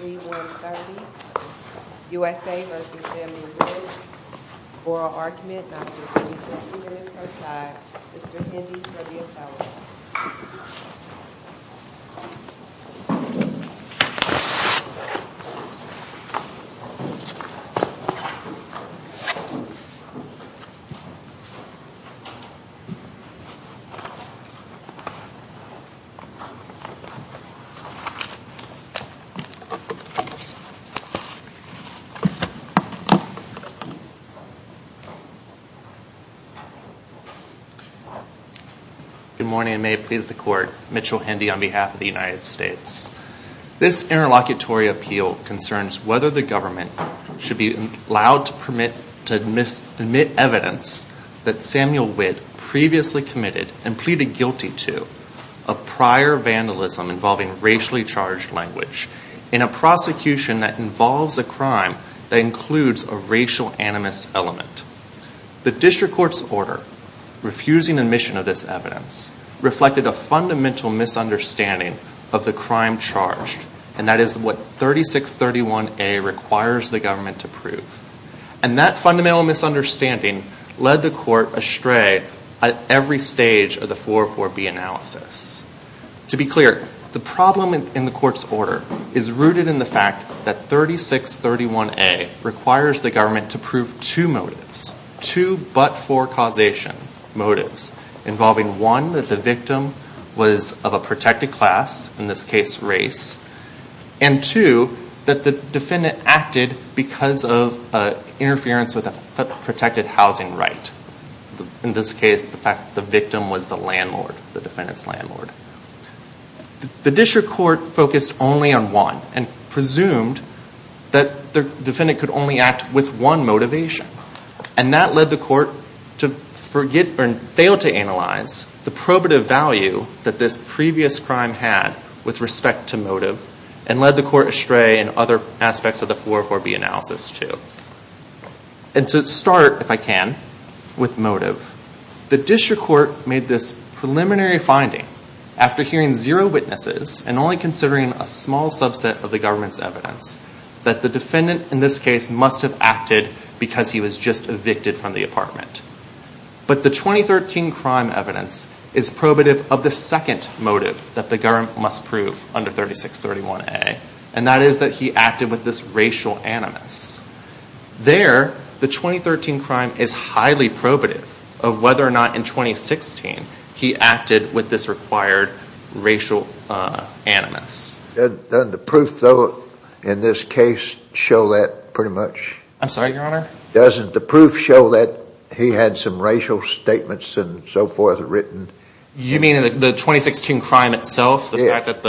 Oral argument, not to the police, but to Ms. Persaud, Mr. Henry Trevelyan Powell. Good morning and may it please the court, Mitchell Hendy on behalf of the United States. This interlocutory appeal concerns whether the government should be allowed to admit evidence that Samuel Whitt previously committed and pleaded guilty to a prior vandalism involving racially charged language in a prosecution that involves a crime that includes a racial animus element. The district court's order refusing admission of this evidence reflected a fundamental misunderstanding of the crime charged, and that is what 3631A requires the government to prove. And that fundamental misunderstanding led the court astray at every stage of the 404B analysis. To be clear, the problem in the court's order is rooted in the fact that 3631A requires the government to prove two motives, two but-for causation motives, involving one, that the victim was of a protected class, in this case race, and two, that the defendant acted because of interference with a protected housing right. In this case, the victim was the landlord, the defendant's landlord. The district court focused only on one and presumed that the defendant could only act with one motivation, and that led the court to fail to analyze the probative value that this previous crime had with respect to motive and led the court astray in other aspects of the 404B analysis, too. And to start, if I can, with motive, the district court made this preliminary finding after hearing zero witnesses and only considering a small subset of the government's evidence that the defendant, in this case, must have acted because he was just evicted from the apartment. But the 2013 crime evidence is probative of the second motive that the government must prove under 3631A, and that is that he acted with this racial animus. There, the 2013 crime is highly probative of whether or not, in 2016, he acted with this required racial animus. Doesn't the proof, though, in this case show that pretty much? I'm sorry, your honor? Doesn't the proof show that he had some racial statements and so forth written? You mean the 2016 crime itself, the fact that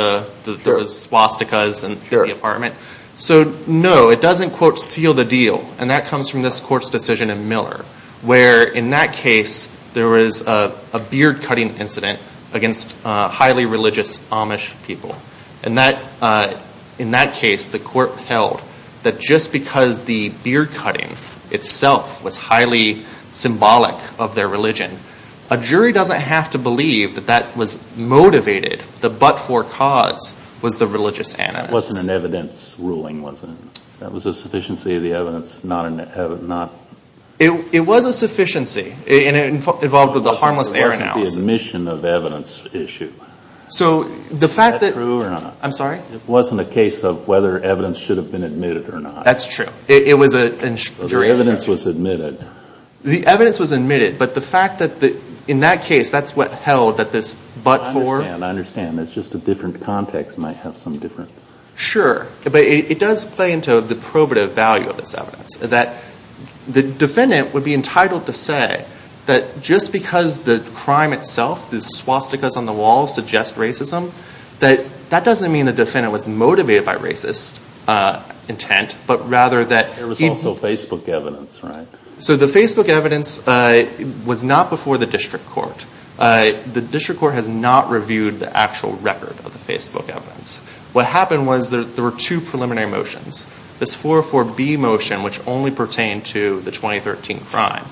there was swastikas in the apartment? So no, it doesn't, quote, seal the deal. And that comes from this court's decision in Miller, where, in that case, there was a beard-cutting incident against highly religious Amish people. In that case, the court held that just because the beard-cutting itself was highly symbolic of their religion, a jury doesn't have to believe that that was motivated, the but-for cause was the religious animus. It wasn't an evidence ruling, was it? That was a sufficiency of the evidence, not an evidence? It was a sufficiency, and it involved with the harmless error analysis. It wasn't the admission of evidence issue. So the fact that... Is that true or not? I'm sorry? It wasn't a case of whether evidence should have been admitted or not. That's true. It was a jury issue. But the evidence was admitted. The evidence was admitted, but the fact that, in that case, that's what held that this but-for... I understand. I understand. It's just a different context might have some different... Sure. But it does play into the probative value of this evidence, that the defendant would be entitled to say that just because the crime itself, the swastikas on the wall, suggest racism, that that doesn't mean the defendant was motivated by racist intent, but rather that... There was also Facebook evidence, right? So the Facebook evidence was not before the district court. The district court has not reviewed the actual record of the Facebook evidence. What happened was there were two preliminary motions. This 404B motion, which only pertained to the 2013 crime,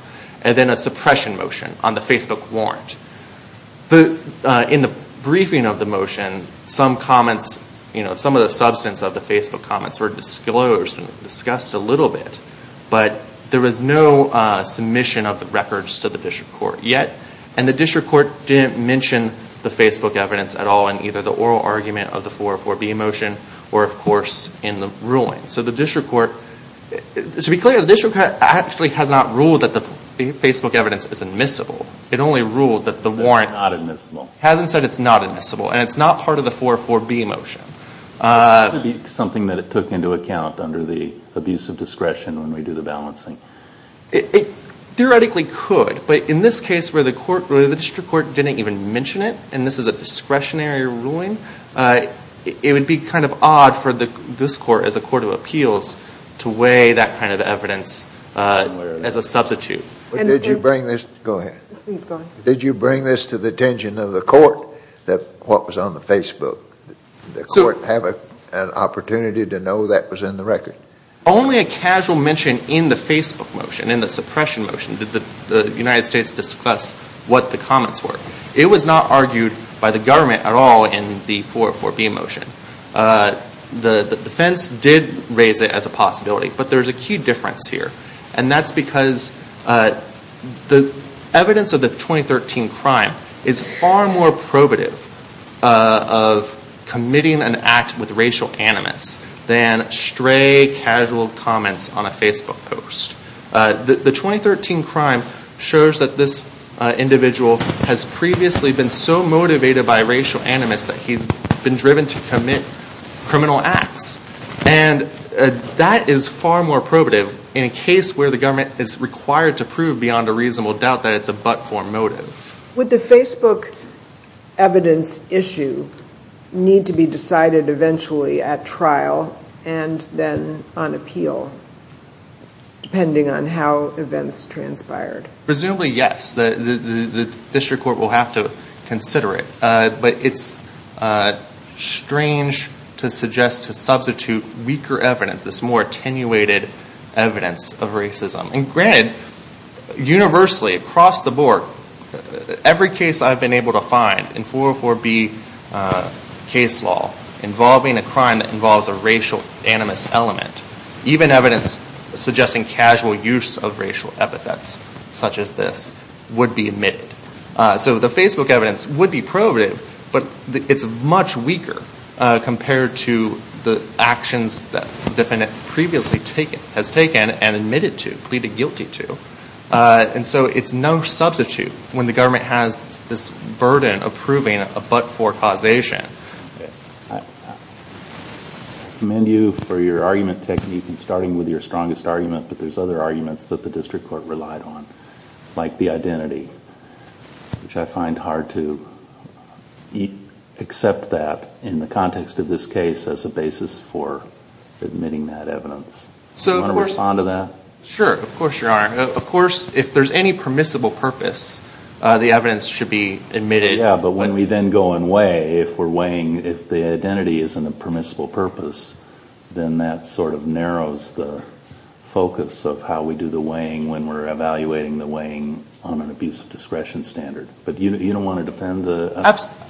and then a suppression motion on the Facebook warrant. In the briefing of the motion, some comments, some of the substance of the Facebook comments were disclosed and discussed a little bit, but there was no submission of the records to the district court yet. And the district court didn't mention the Facebook evidence at all in either the oral argument of the 404B motion or, of course, in the ruling. So the district court... To be clear, the district court actually has not ruled that the Facebook evidence is admissible. It only ruled that the warrant... It's not admissible. Hasn't said it's not admissible, and it's not part of the 404B motion. Would that be something that it took into account under the abuse of discretion when we do the balancing? It theoretically could, but in this case where the district court didn't even mention it and this is a discretionary ruling, it would be kind of odd for this court, as a court of appeals, to weigh that kind of evidence as a substitute. Did you bring this to the attention of the court, what was on the Facebook? Did the court have an opportunity to know that was in the record? Only a casual mention in the Facebook motion, in the suppression motion, did the United States discuss what the comments were. It was not argued by the government at all in the 404B motion. The defense did raise it as a possibility, but there's a key difference here, and that's because the evidence of the 2013 crime is far more probative of committing an act with racial animus than stray, casual comments on a Facebook post. The 2013 crime shows that this individual has previously been so motivated by racial animus that he's been driven to commit criminal acts, and that is far more probative in a case where the government is required to prove beyond a reasonable doubt that it's a but-for motive. Would the Facebook evidence issue need to be decided eventually at trial and then on appeal, depending on how events transpired? Presumably yes, the district court will have to consider it, but it's strange to suggest to substitute weaker evidence, this more attenuated evidence of racism. Granted, universally, across the board, every case I've been able to find in 404B case law involving a crime that involves a racial animus element, even evidence suggesting casual use of racial epithets such as this, would be admitted. So the Facebook evidence would be probative, but it's much weaker compared to the actions that the defendant previously has taken and admitted to, pleaded guilty to, and so it's no substitute when the government has this burden of proving a but-for causation. I commend you for your argument technique and starting with your strongest argument, but there's other arguments that the district court relied on, like the identity, which I find hard to accept that in the context of this case as a basis for admitting that evidence. Do you want to respond to that? Sure. Of course, Your Honor. Of course, if there's any permissible purpose, the evidence should be admitted. Yeah, but when we then go and weigh, if we're weighing if the identity is in a permissible purpose, then that sort of narrows the focus of how we do the weighing when we're evaluating the weighing on an abuse of discretion standard. But you don't want to defend the...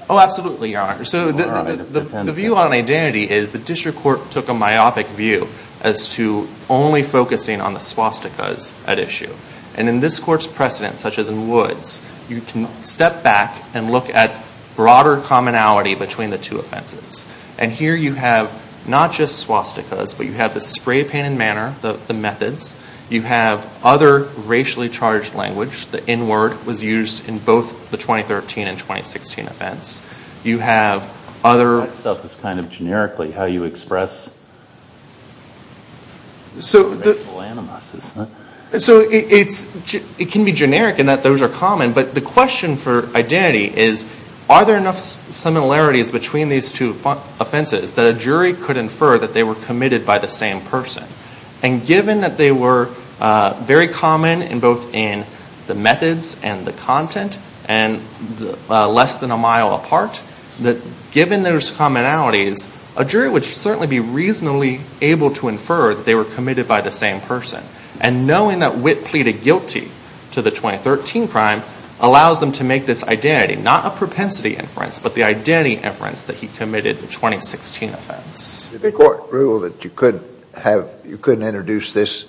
Oh, absolutely, Your Honor. So the view on identity is the district court took a myopic view as to only focusing on the swastikas at issue. And in this court's precedent, such as in Woods, you can step back and look at broader commonality between the two offenses. And here you have not just swastikas, but you have the spray paint and manner, the methods. You have other racially charged language. The N-word was used in both the 2013 and 2016 events. You have other... That stuff is kind of generically how you express... So... ...the racial animus, isn't it? So it can be generic in that those are common, but the question for identity is, are there enough similarities between these two offenses that a jury could infer that they were committed by the same person? And given that they were very common in both in the methods and the content, and less than a mile apart, that given those commonalities, a jury would certainly be reasonably able to infer that they were committed by the same person. And knowing that wit pleaded guilty to the 2013 crime allows them to make this identity, not a propensity inference, but the identity inference that he committed the 2016 offense. Did the court rule that you couldn't introduce this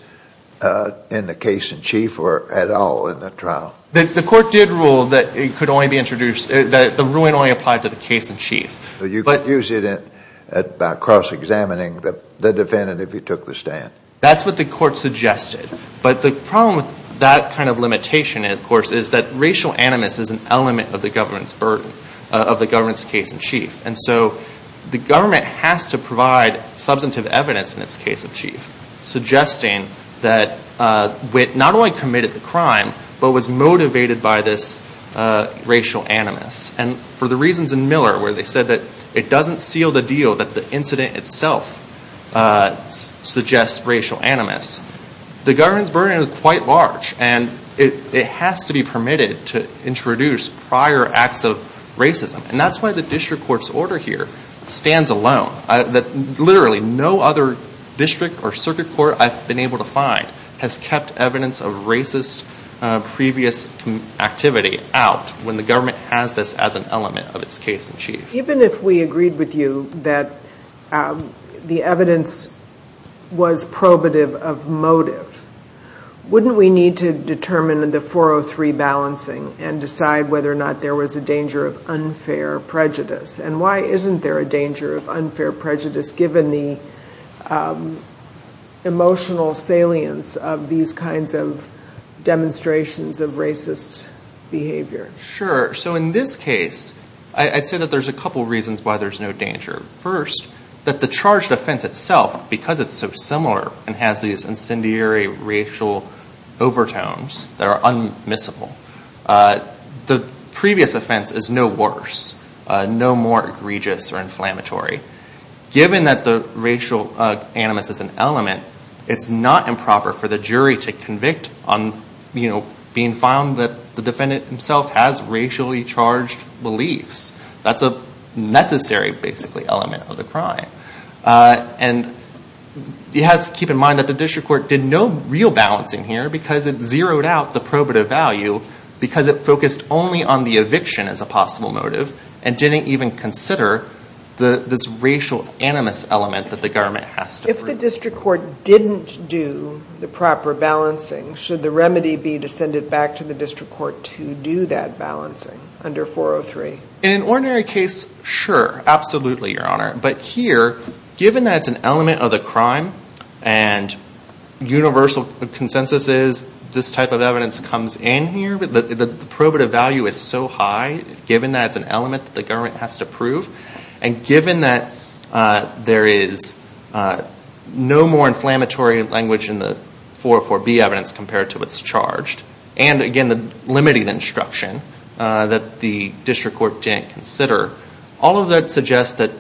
in the case in chief or at all in the trial? The court did rule that it could only be introduced, that the ruling only applied to the case in chief. But you can't use it by cross-examining the defendant if he took the stand. That's what the court suggested. But the problem with that kind of limitation, of course, is that racial animus is an element of the government's burden, of the government's case in chief. And so the government has to provide substantive evidence in its case in chief, suggesting that wit not only committed the crime, but was motivated by this racial animus. And for the reasons in Miller, where they said that it doesn't seal the deal that the incident itself suggests racial animus, the government's burden is quite large. And it has to be permitted to introduce prior acts of racism. And that's why the district court's order here stands alone, that literally no other district or circuit court I've been able to find has kept evidence of racist previous activity out when the government has this as an element of its case in chief. Even if we agreed with you that the evidence was probative of motive, wouldn't we need to determine the 403 balancing and decide whether or not there was a danger of unfair prejudice? And why isn't there a danger of unfair prejudice given the emotional salience of these kinds of demonstrations of racist behavior? Sure. So in this case, I'd say that there's a couple reasons why there's no danger. First, that the charged offense itself, because it's so similar and has these incendiary racial overtones that are unmissable, the previous offense is no worse, no more egregious or inflammatory. Given that the racial animus is an element, it's not improper for the jury to convict on being found that the defendant himself has racially charged beliefs. That's a necessary, basically, element of the crime. And you have to keep in mind that the district court did no real balancing here because it zeroed out the probative value because it focused only on the eviction as a possible motive and didn't even consider this racial animus element that the government has. If the district court didn't do the proper balancing, should the remedy be to send it back to the district court to do that balancing under 403? In an ordinary case, sure, absolutely, Your Honor. But here, given that it's an element of the crime and universal consensus is this type of evidence comes in here, the probative value is so high, given that it's an element that the government has to approve, and given that there is no more inflammatory language in the 404B evidence compared to what's charged, and again, the limiting instruction that the district court didn't consider, all of that suggests that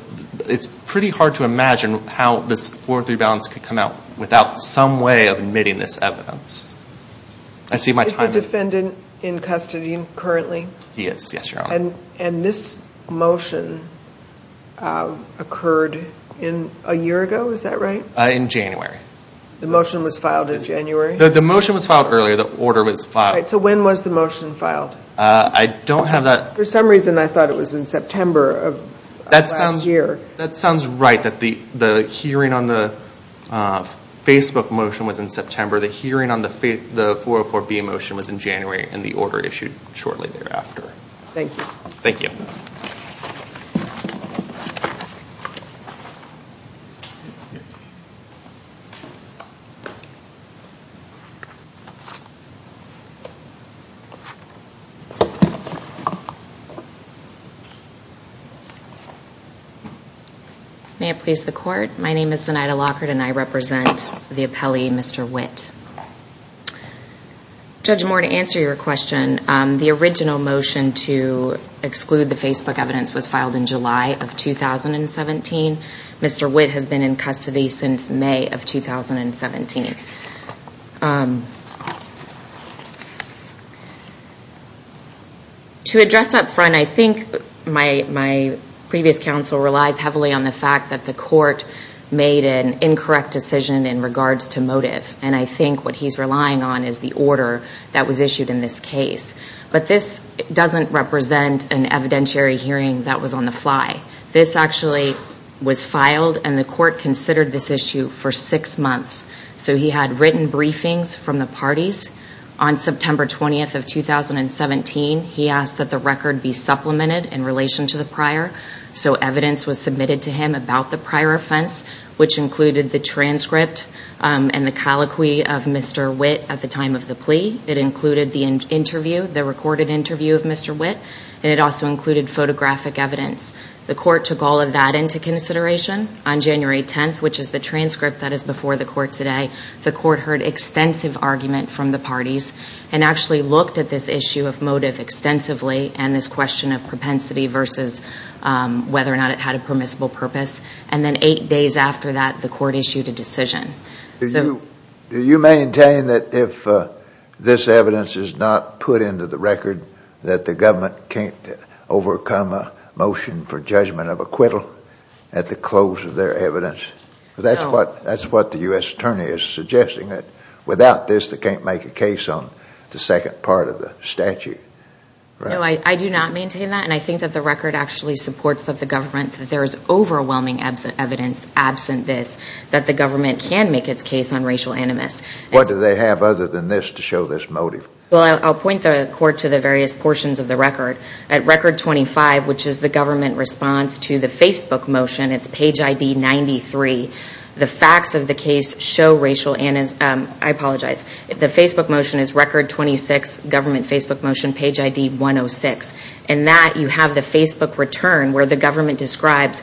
it's pretty hard to imagine how this 403 balance could come out without some way of admitting this evidence. I see my time... Is the defendant in custody currently? He is, yes, Your Honor. And this motion occurred a year ago, is that right? In January. The motion was filed in January? The motion was filed earlier, the order was filed. So when was the motion filed? I don't have that... For some reason, I thought it was in September of last year. That sounds right, that the hearing on the Facebook motion was in September, the hearing on the 404B motion was in January, and the order issued shortly thereafter. Thank you. Thank you. May it please the court, my name is Zenaida Lockhart and I represent the appellee, Mr. Witt. Judge Moore, to answer your question, the original motion to exclude the Facebook evidence was filed in July of 2017. Mr. Witt has been in custody since May of 2017. To address up front, I think my previous counsel relies heavily on the fact that the court made an incorrect decision in regards to motive. And I think what he's relying on is the order that was issued in this case. But this doesn't represent an evidentiary hearing that was on the fly. This actually was filed and the court considered this issue for six months. So he had written briefings from the parties. On September 20th of 2017, he asked that the record be supplemented in relation to the prior. So evidence was submitted to him about the prior offense, which included the transcript and the colloquy of Mr. Witt at the time of the plea. It included the interview, the recorded interview of Mr. Witt, and it also included photographic evidence. The court took all of that into consideration. On January 10th, which is the transcript that is before the court today, the court heard extensive argument from the parties and actually looked at this issue of motive extensively and this question of propensity versus whether or not it had a permissible purpose. And then eight days after that, the court issued a decision. Do you maintain that if this evidence is not put into the record, that the government can't overcome a motion for judgment of acquittal at the close of their evidence? That's what the U.S. Attorney is suggesting, that without this, they can't make a case on the second part of the statute. No, I do not maintain that, and I think that the record actually supports that there is overwhelming evidence absent this, that the government can make its case on racial animus. What do they have other than this to show this motive? Well, I'll point the court to the various portions of the record. At record 25, which is the government response to the Facebook motion, it's page ID 93, the facts of the case show racial animus, I apologize, the Facebook motion is record 26, government Facebook motion, page ID 106, and that you have the Facebook return where the government describes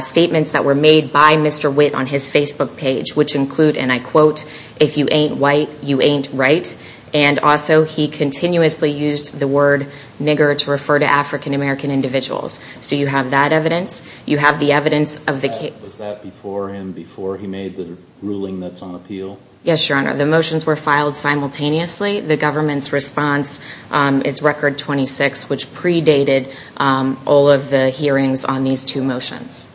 statements that were made by Mr. Witt on his Facebook page, which include, and I quote, if you ain't white, you ain't right, and also he continuously used the word nigger to refer to African American individuals, so you have that evidence, you have the evidence of the case. Was that before him, before he made the ruling that's on appeal? Yes, your honor. The motions were filed simultaneously. The government's response is record 26, which predated all of the hearings on these two motions.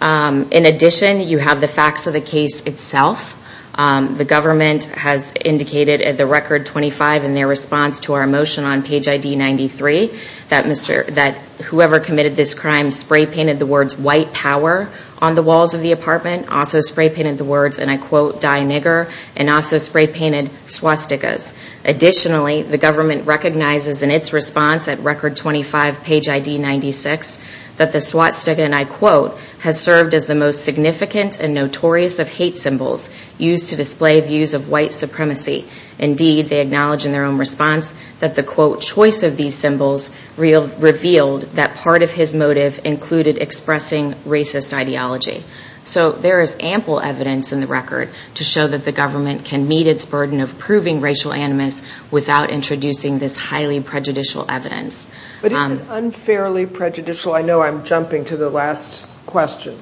In addition, you have the facts of the case itself. The government has indicated at the record 25 in their response to our motion on page ID 93 that whoever committed this crime spray painted the words white power on the walls of the apartment, also spray painted the words, and I quote, die nigger, and also spray painted swastikas. Additionally, the government recognizes in its response at record 25, page ID 96, that the swastika, and I quote, has served as the most significant and notorious of hate symbols used to display views of white supremacy. Indeed, they acknowledge in their own response that the, quote, choice of these symbols revealed that part of his motive included expressing racist ideology. So there is ample evidence in the record to show that the government can meet its burden of proving racial animus without introducing this highly prejudicial evidence. But is it unfairly prejudicial? I know I'm jumping to the last question,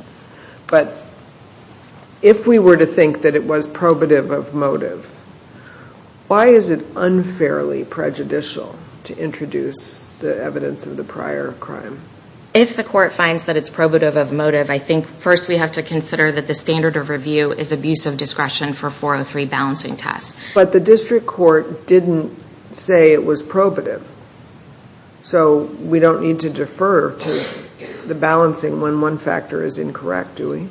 but if we were to think that it was probative of motive, why is it unfairly prejudicial to introduce the evidence of the prior crime? If the court finds that it's probative of motive, I think first we have to consider that the standard of review is abuse of discretion for 403 balancing tests. But the district court didn't say it was probative, so we don't need to defer to the balancing when one factor is incorrect, do we?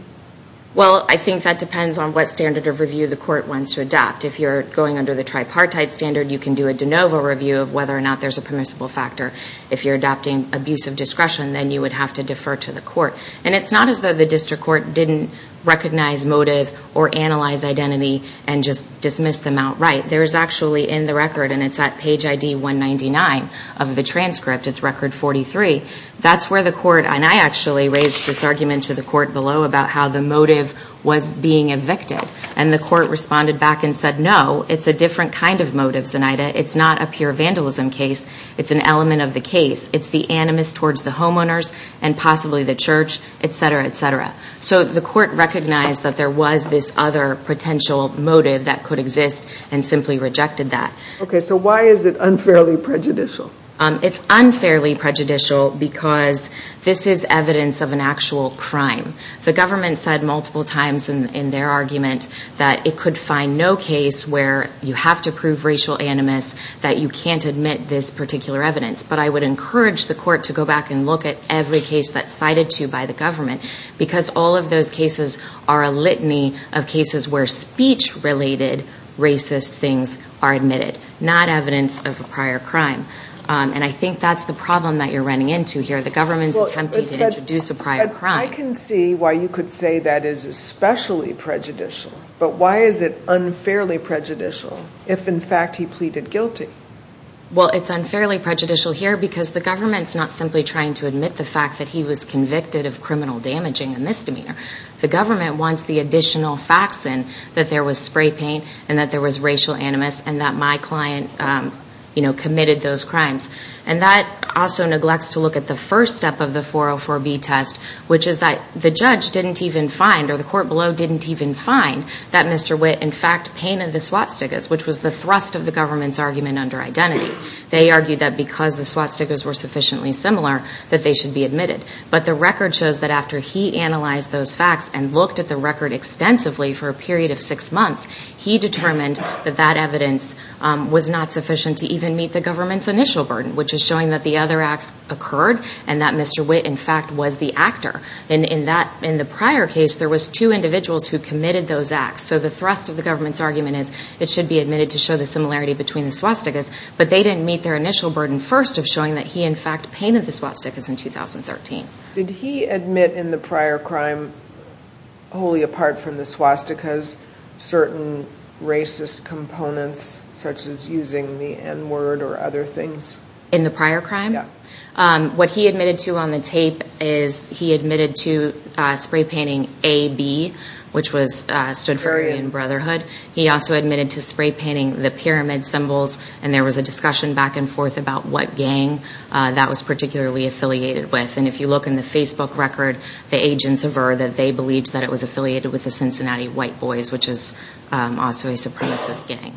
Well, I think that depends on what standard of review the court wants to adopt. If you're going under the tripartite standard, you can do a de novo review of whether or not there's a permissible factor. If you're adopting abuse of discretion, then you would have to defer to the court. And it's not as though the district court didn't recognize motive or analyze identity and just dismiss them outright. There is actually in the record, and it's at page ID 199 of the transcript, it's record 43, that's where the court, and I actually raised this argument to the court below about how the motive was being evicted. And the court responded back and said, no, it's a different kind of motive, Zenaida. It's not a pure vandalism case. It's an element of the case. It's the animus towards the homeowners and possibly the church, et cetera, et cetera. So the court recognized that there was this other potential motive that could exist and simply rejected that. Okay, so why is it unfairly prejudicial? It's unfairly prejudicial because this is evidence of an actual crime. The government said multiple times in their argument that it could find no case where you have to prove racial animus, that you can't admit this particular evidence. But I would encourage the court to go back and look at every case that's cited to by the government because all of those cases are a litany of cases where speech-related racist things are admitted, not evidence of a prior crime. And I think that's the problem that you're running into here. The government's attempting to introduce a prior crime. I can see why you could say that is especially prejudicial, but why is it unfairly prejudicial if in fact he pleaded guilty? Well, it's unfairly prejudicial here because the government's not simply trying to admit the fact that he was convicted of criminal damaging and misdemeanor. The government wants the additional facts in that there was spray paint and that there was racial animus and that my client, you know, committed those crimes. And that also neglects to look at the first step of the 404B test, which is that the judge didn't even find or the court below didn't even find that Mr. Witt in fact painted the swastikas, which was the thrust of the government's argument under identity. They argued that because the swastikas were sufficiently similar that they should be admitted. But the record shows that after he analyzed those facts and looked at the record extensively for a period of six months, he determined that that evidence was not sufficient to even meet the government's initial burden, which is showing that the other acts occurred and that Mr. Witt in fact was the actor. And in that, in the prior case, there was two individuals who committed those acts. So the thrust of the government's argument is it should be admitted to show the similarity between the swastikas, but they didn't meet their initial burden first of showing that he in fact painted the swastikas in 2013. Did he admit in the prior crime, wholly apart from the swastikas, certain racist components such as using the N-word or other things? In the prior crime? Yeah. What he admitted to on the tape is he admitted to spray painting AB, which was Stoodford Union Brotherhood. He also admitted to spray painting the pyramid symbols, and there was a discussion back and forth about what gang that was particularly affiliated with. And if you look in the Facebook record, the agents averred that they believed that it was affiliated with the Cincinnati White Boys, which is also a supremacist gang.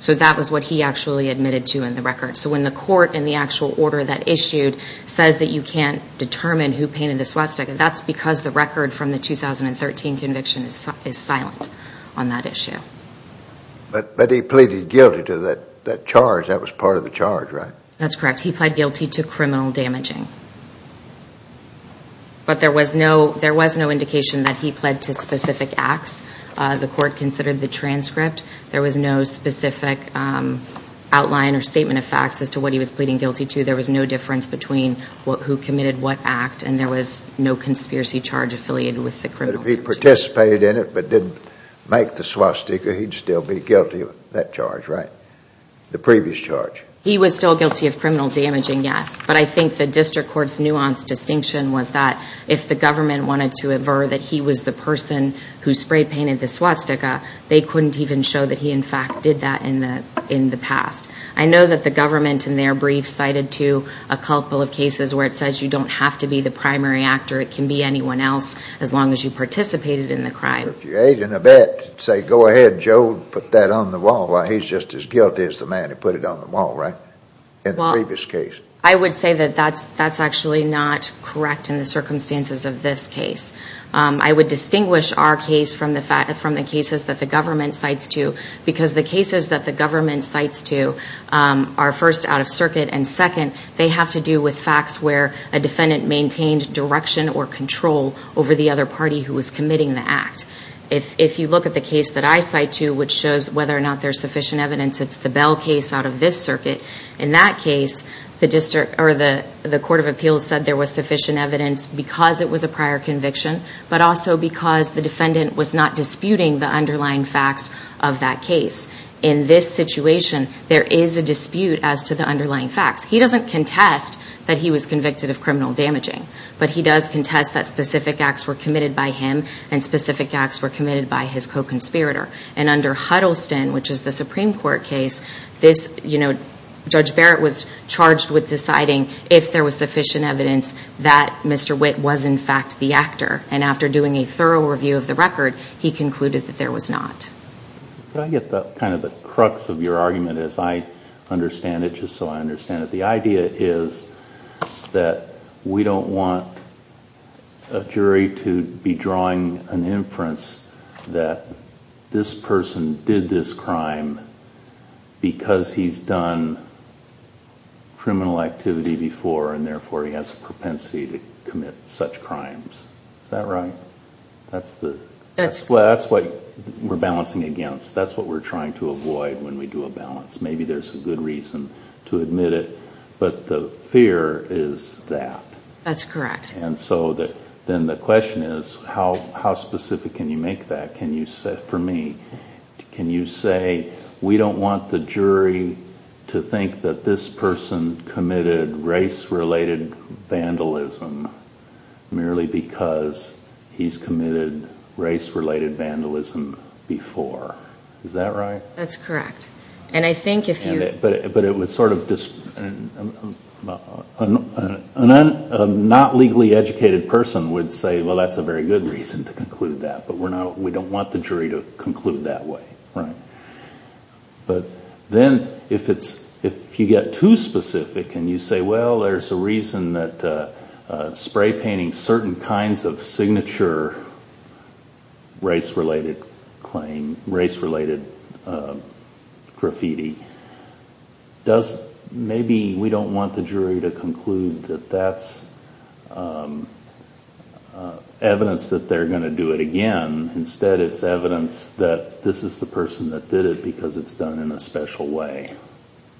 So that was what he actually admitted to in the record. So when the court in the actual order that issued says that you can't determine who painted the swastika, that's because the record from the 2013 conviction is silent on that issue. But he pleaded guilty to that charge. That was part of the charge, right? That's correct. He pled guilty to criminal damaging. But there was no indication that he pled to specific acts. The court considered the transcript. There was no specific outline or statement of facts as to what he was pleading guilty to. There was no difference between who committed what act, and there was no conspiracy charge affiliated with the criminal. But if he participated in it but didn't make the swastika, he'd still be guilty of that charge, right? The previous charge. He was still guilty of criminal damaging, yes. But I think the district court's nuanced distinction was that if the government wanted to aver that he was the person who spray-painted the swastika, they couldn't even show that he in fact did that in the past. I know that the government in their brief cited to a couple of cases where it says you don't have to be the primary actor, it can be anyone else, as long as you participated in the crime. But your agent, I bet, would say, go ahead, Joe, put that on the wall, while he's just as guilty as the man who put it on the wall, right, in the previous case. I would say that that's actually not correct in the circumstances of this case. I would distinguish our case from the cases that the government cites to, because the cases that the government cites to are first, out of circuit, and second, they have to do with facts where a defendant maintained direction or control over the other party who was committing the act. If you look at the case that I cite to, which shows whether or not there's sufficient evidence, it's the Bell case out of this circuit, in that case, the court of appeals said there was sufficient evidence because it was a prior conviction, but also because the defendant was not disputing the underlying facts of that case. In this situation, there is a dispute as to the underlying facts. He doesn't contest that he was convicted of criminal damaging, but he does contest that specific acts were committed by him, and specific acts were committed by his co-conspirator. Under Huddleston, which is the Supreme Court case, Judge Barrett was charged with deciding if there was sufficient evidence that Mr. Witt was, in fact, the actor. After doing a thorough review of the record, he concluded that there was not. Can I get the crux of your argument, as I understand it, just so I understand it? The idea is that we don't want a jury to be drawing an inference that this person did this crime because he's done criminal activity before, and therefore, he has a propensity to commit such crimes. Is that right? That's what we're balancing against. That's what we're trying to avoid when we do a balance. Maybe there's a good reason to admit it, but the fear is that. That's correct. Then the question is, how specific can you make that for me? Can you say, we don't want the jury to think that this person committed race-related vandalism merely because he's committed race-related vandalism before. Is that right? That's correct. But a not-legally-educated person would say, well, that's a very good reason to conclude that, but we don't want the jury to conclude that way. But then, if you get too specific and you say, well, there's a reason that spray-painting certain kinds of signature race-related graffiti, maybe we don't want the jury to conclude that that's evidence that they're going to do it again. Instead, it's evidence that this is the person that did it because it's done in a special way.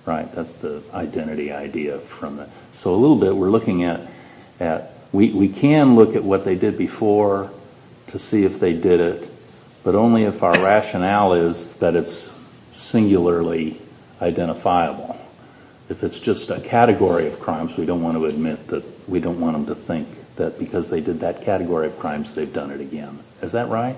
Right? That's the identity idea. So a little bit, we're looking at, we can look at what they did before to see if they did it, but only if our rationale is that it's singularly identifiable. If it's just a category of crimes, we don't want them to think that because they did that category of crimes, they've done it again. Is that right?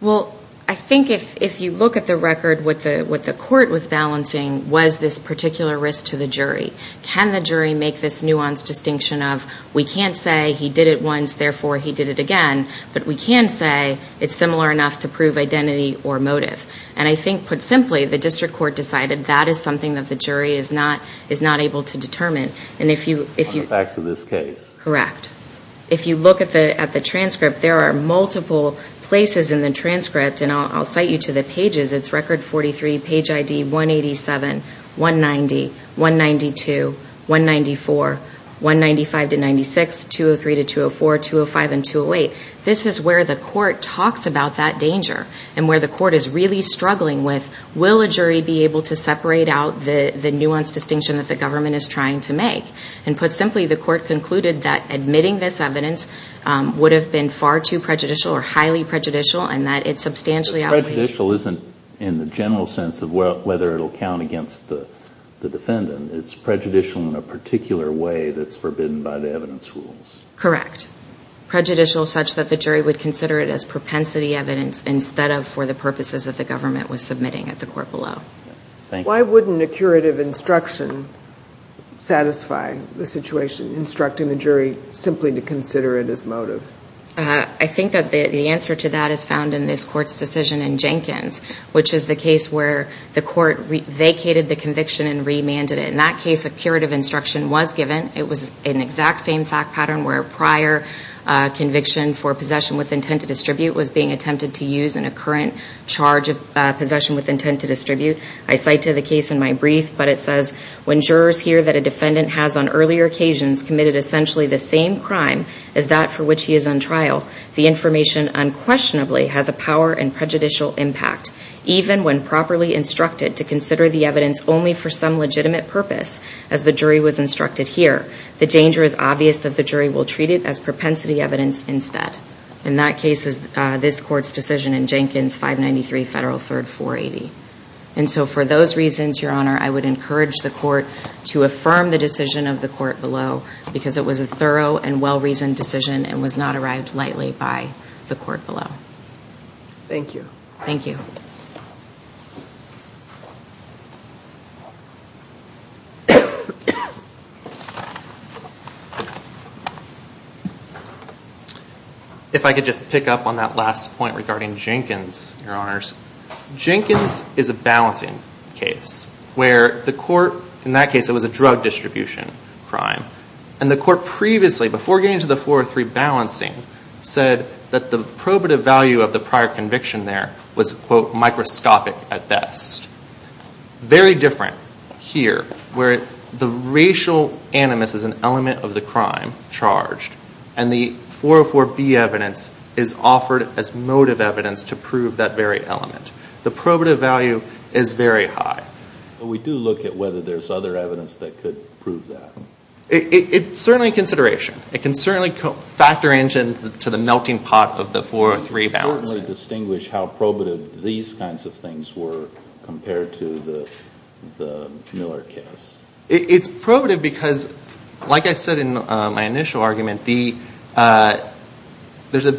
Well, I think if you look at the record, what the court was balancing was this particular risk to the jury. Can the jury make this nuanced distinction of, we can't say he did it once, therefore he did it again, but we can say it's similar enough to prove identity or motive. And I think, put simply, the district court decided that is something that the jury is not able to determine. On the facts of this case. Correct. If you look at the transcript, there are multiple places in the transcript, and I'll cite you to the pages. It's record 43, page ID 187, 190, 192, 194, 195 to 96, 203 to 204, 205 and 208. This is where the court talks about that danger, and where the court is really struggling with, will a jury be able to separate out the nuanced distinction that the government is trying to make? And put simply, the court concluded that admitting this evidence would have been far too prejudicial or highly prejudicial, and that it's substantially outweighed. Prejudicial isn't in the general sense of whether it will count against the defendant. It's prejudicial in a particular way that's forbidden by the evidence rules. Correct. Prejudicial such that the jury would consider it as propensity evidence instead of for the purposes that the government was submitting at the court below. Why wouldn't a curative instruction satisfy the situation, instructing the jury simply to consider it as motive? I think that the answer to that is found in this court's decision in Jenkins, which is the case where the court vacated the conviction and remanded it. In that case, a curative instruction was given. It was an exact same fact pattern where a prior conviction for possession with intent to distribute was being attempted to use in a current charge of possession with intent to distribute. I cite to the case in my brief, but it says, when jurors hear that a defendant has on earlier occasions committed essentially the same crime as that for which he is on trial, the information unquestionably has a power and prejudicial impact. Even when properly instructed to consider the evidence only for some legitimate purpose as the jury was instructed here, the danger is obvious that the jury will treat it as propensity evidence instead. In that case is this court's decision in Jenkins, 593 Federal 3rd 480. And so for those reasons, Your Honor, I would encourage the court to affirm the decision of the court below because it was a thorough and well-reasoned decision and was not arrived lightly by the court below. Thank you. Thank you. If I could just pick up on that last point regarding Jenkins, Your Honors, Jenkins is a balancing case where the court, in that case it was a drug distribution crime, and the court previously, before getting to the 403 balancing, said that the probative value of the prior conviction there was, quote, microscopic at best. Very different here where the racial animus is an element of the crime charged and the 404B evidence is offered as motive evidence to prove that very element. The probative value is very high. We do look at whether there's other evidence that could prove that. It's certainly a consideration. It can certainly factor into the melting pot of the 403 balancing. It's important to distinguish how probative these kinds of things were compared to the Miller case. It's probative because, like I said in my initial argument, there's a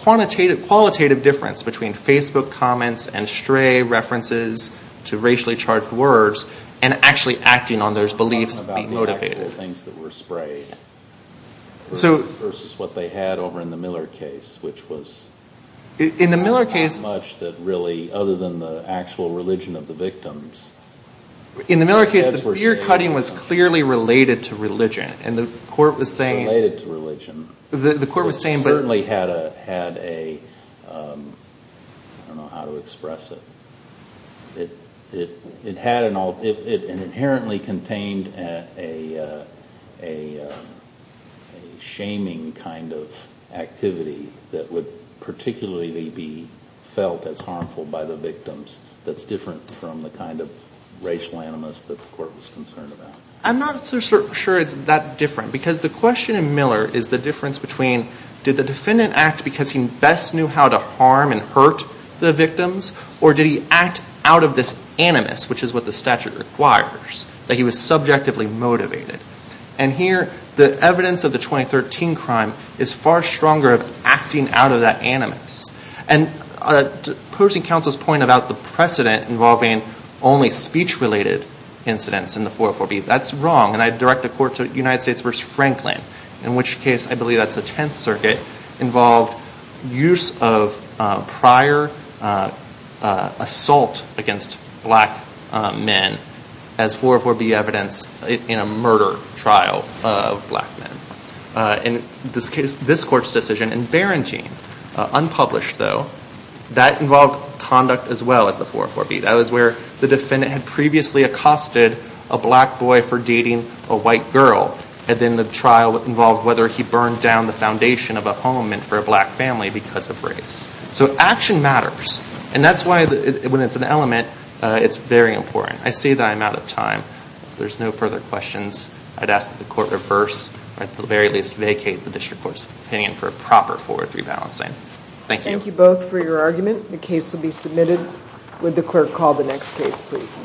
qualitative difference between Facebook comments and stray references to racially charged words and actually acting on those beliefs being motivated. I'm talking about the actual things that were sprayed versus what they had over in the Miller case, which was not much that really, other than the actual religion of the victims. In the Miller case, the beer cutting was clearly related to religion, and the court was saying Related to religion. The court was saying. It certainly had a, I don't know how to express it, it inherently contained a shaming kind of activity that would particularly be felt as harmful by the victims that's different from the kind of racial animus that the court was concerned about. I'm not so sure it's that different, because the question in Miller is the difference between did the defendant act because he best knew how to harm and hurt the victims, or did he act out of this animus, which is what the statute requires, that he was subjectively motivated. Here, the evidence of the 2013 crime is far stronger of acting out of that animus. Posing counsel's point about the precedent involving only speech-related incidents in the 404B, that's wrong, and I direct the court to United States v. Franklin, in which case I believe that's the Tenth Circuit, involved use of prior assault against black men as 404B evidence in a murder trial of black men. In this case, this court's decision in Barrington, unpublished though, that involved conduct as well as the 404B. That was where the defendant had previously accosted a black boy for dating a white girl, and then the trial involved whether he burned down the foundation of a home meant for a black family because of race. So action matters, and that's why, when it's an element, it's very important. I see that I'm out of time. There's no further questions. I'd ask that the court reverse, or at the very least vacate the district court's opinion for a proper 403 balancing. Thank you. Thank you both for your argument. The case will be submitted. With that, would the clerk call the next case, please?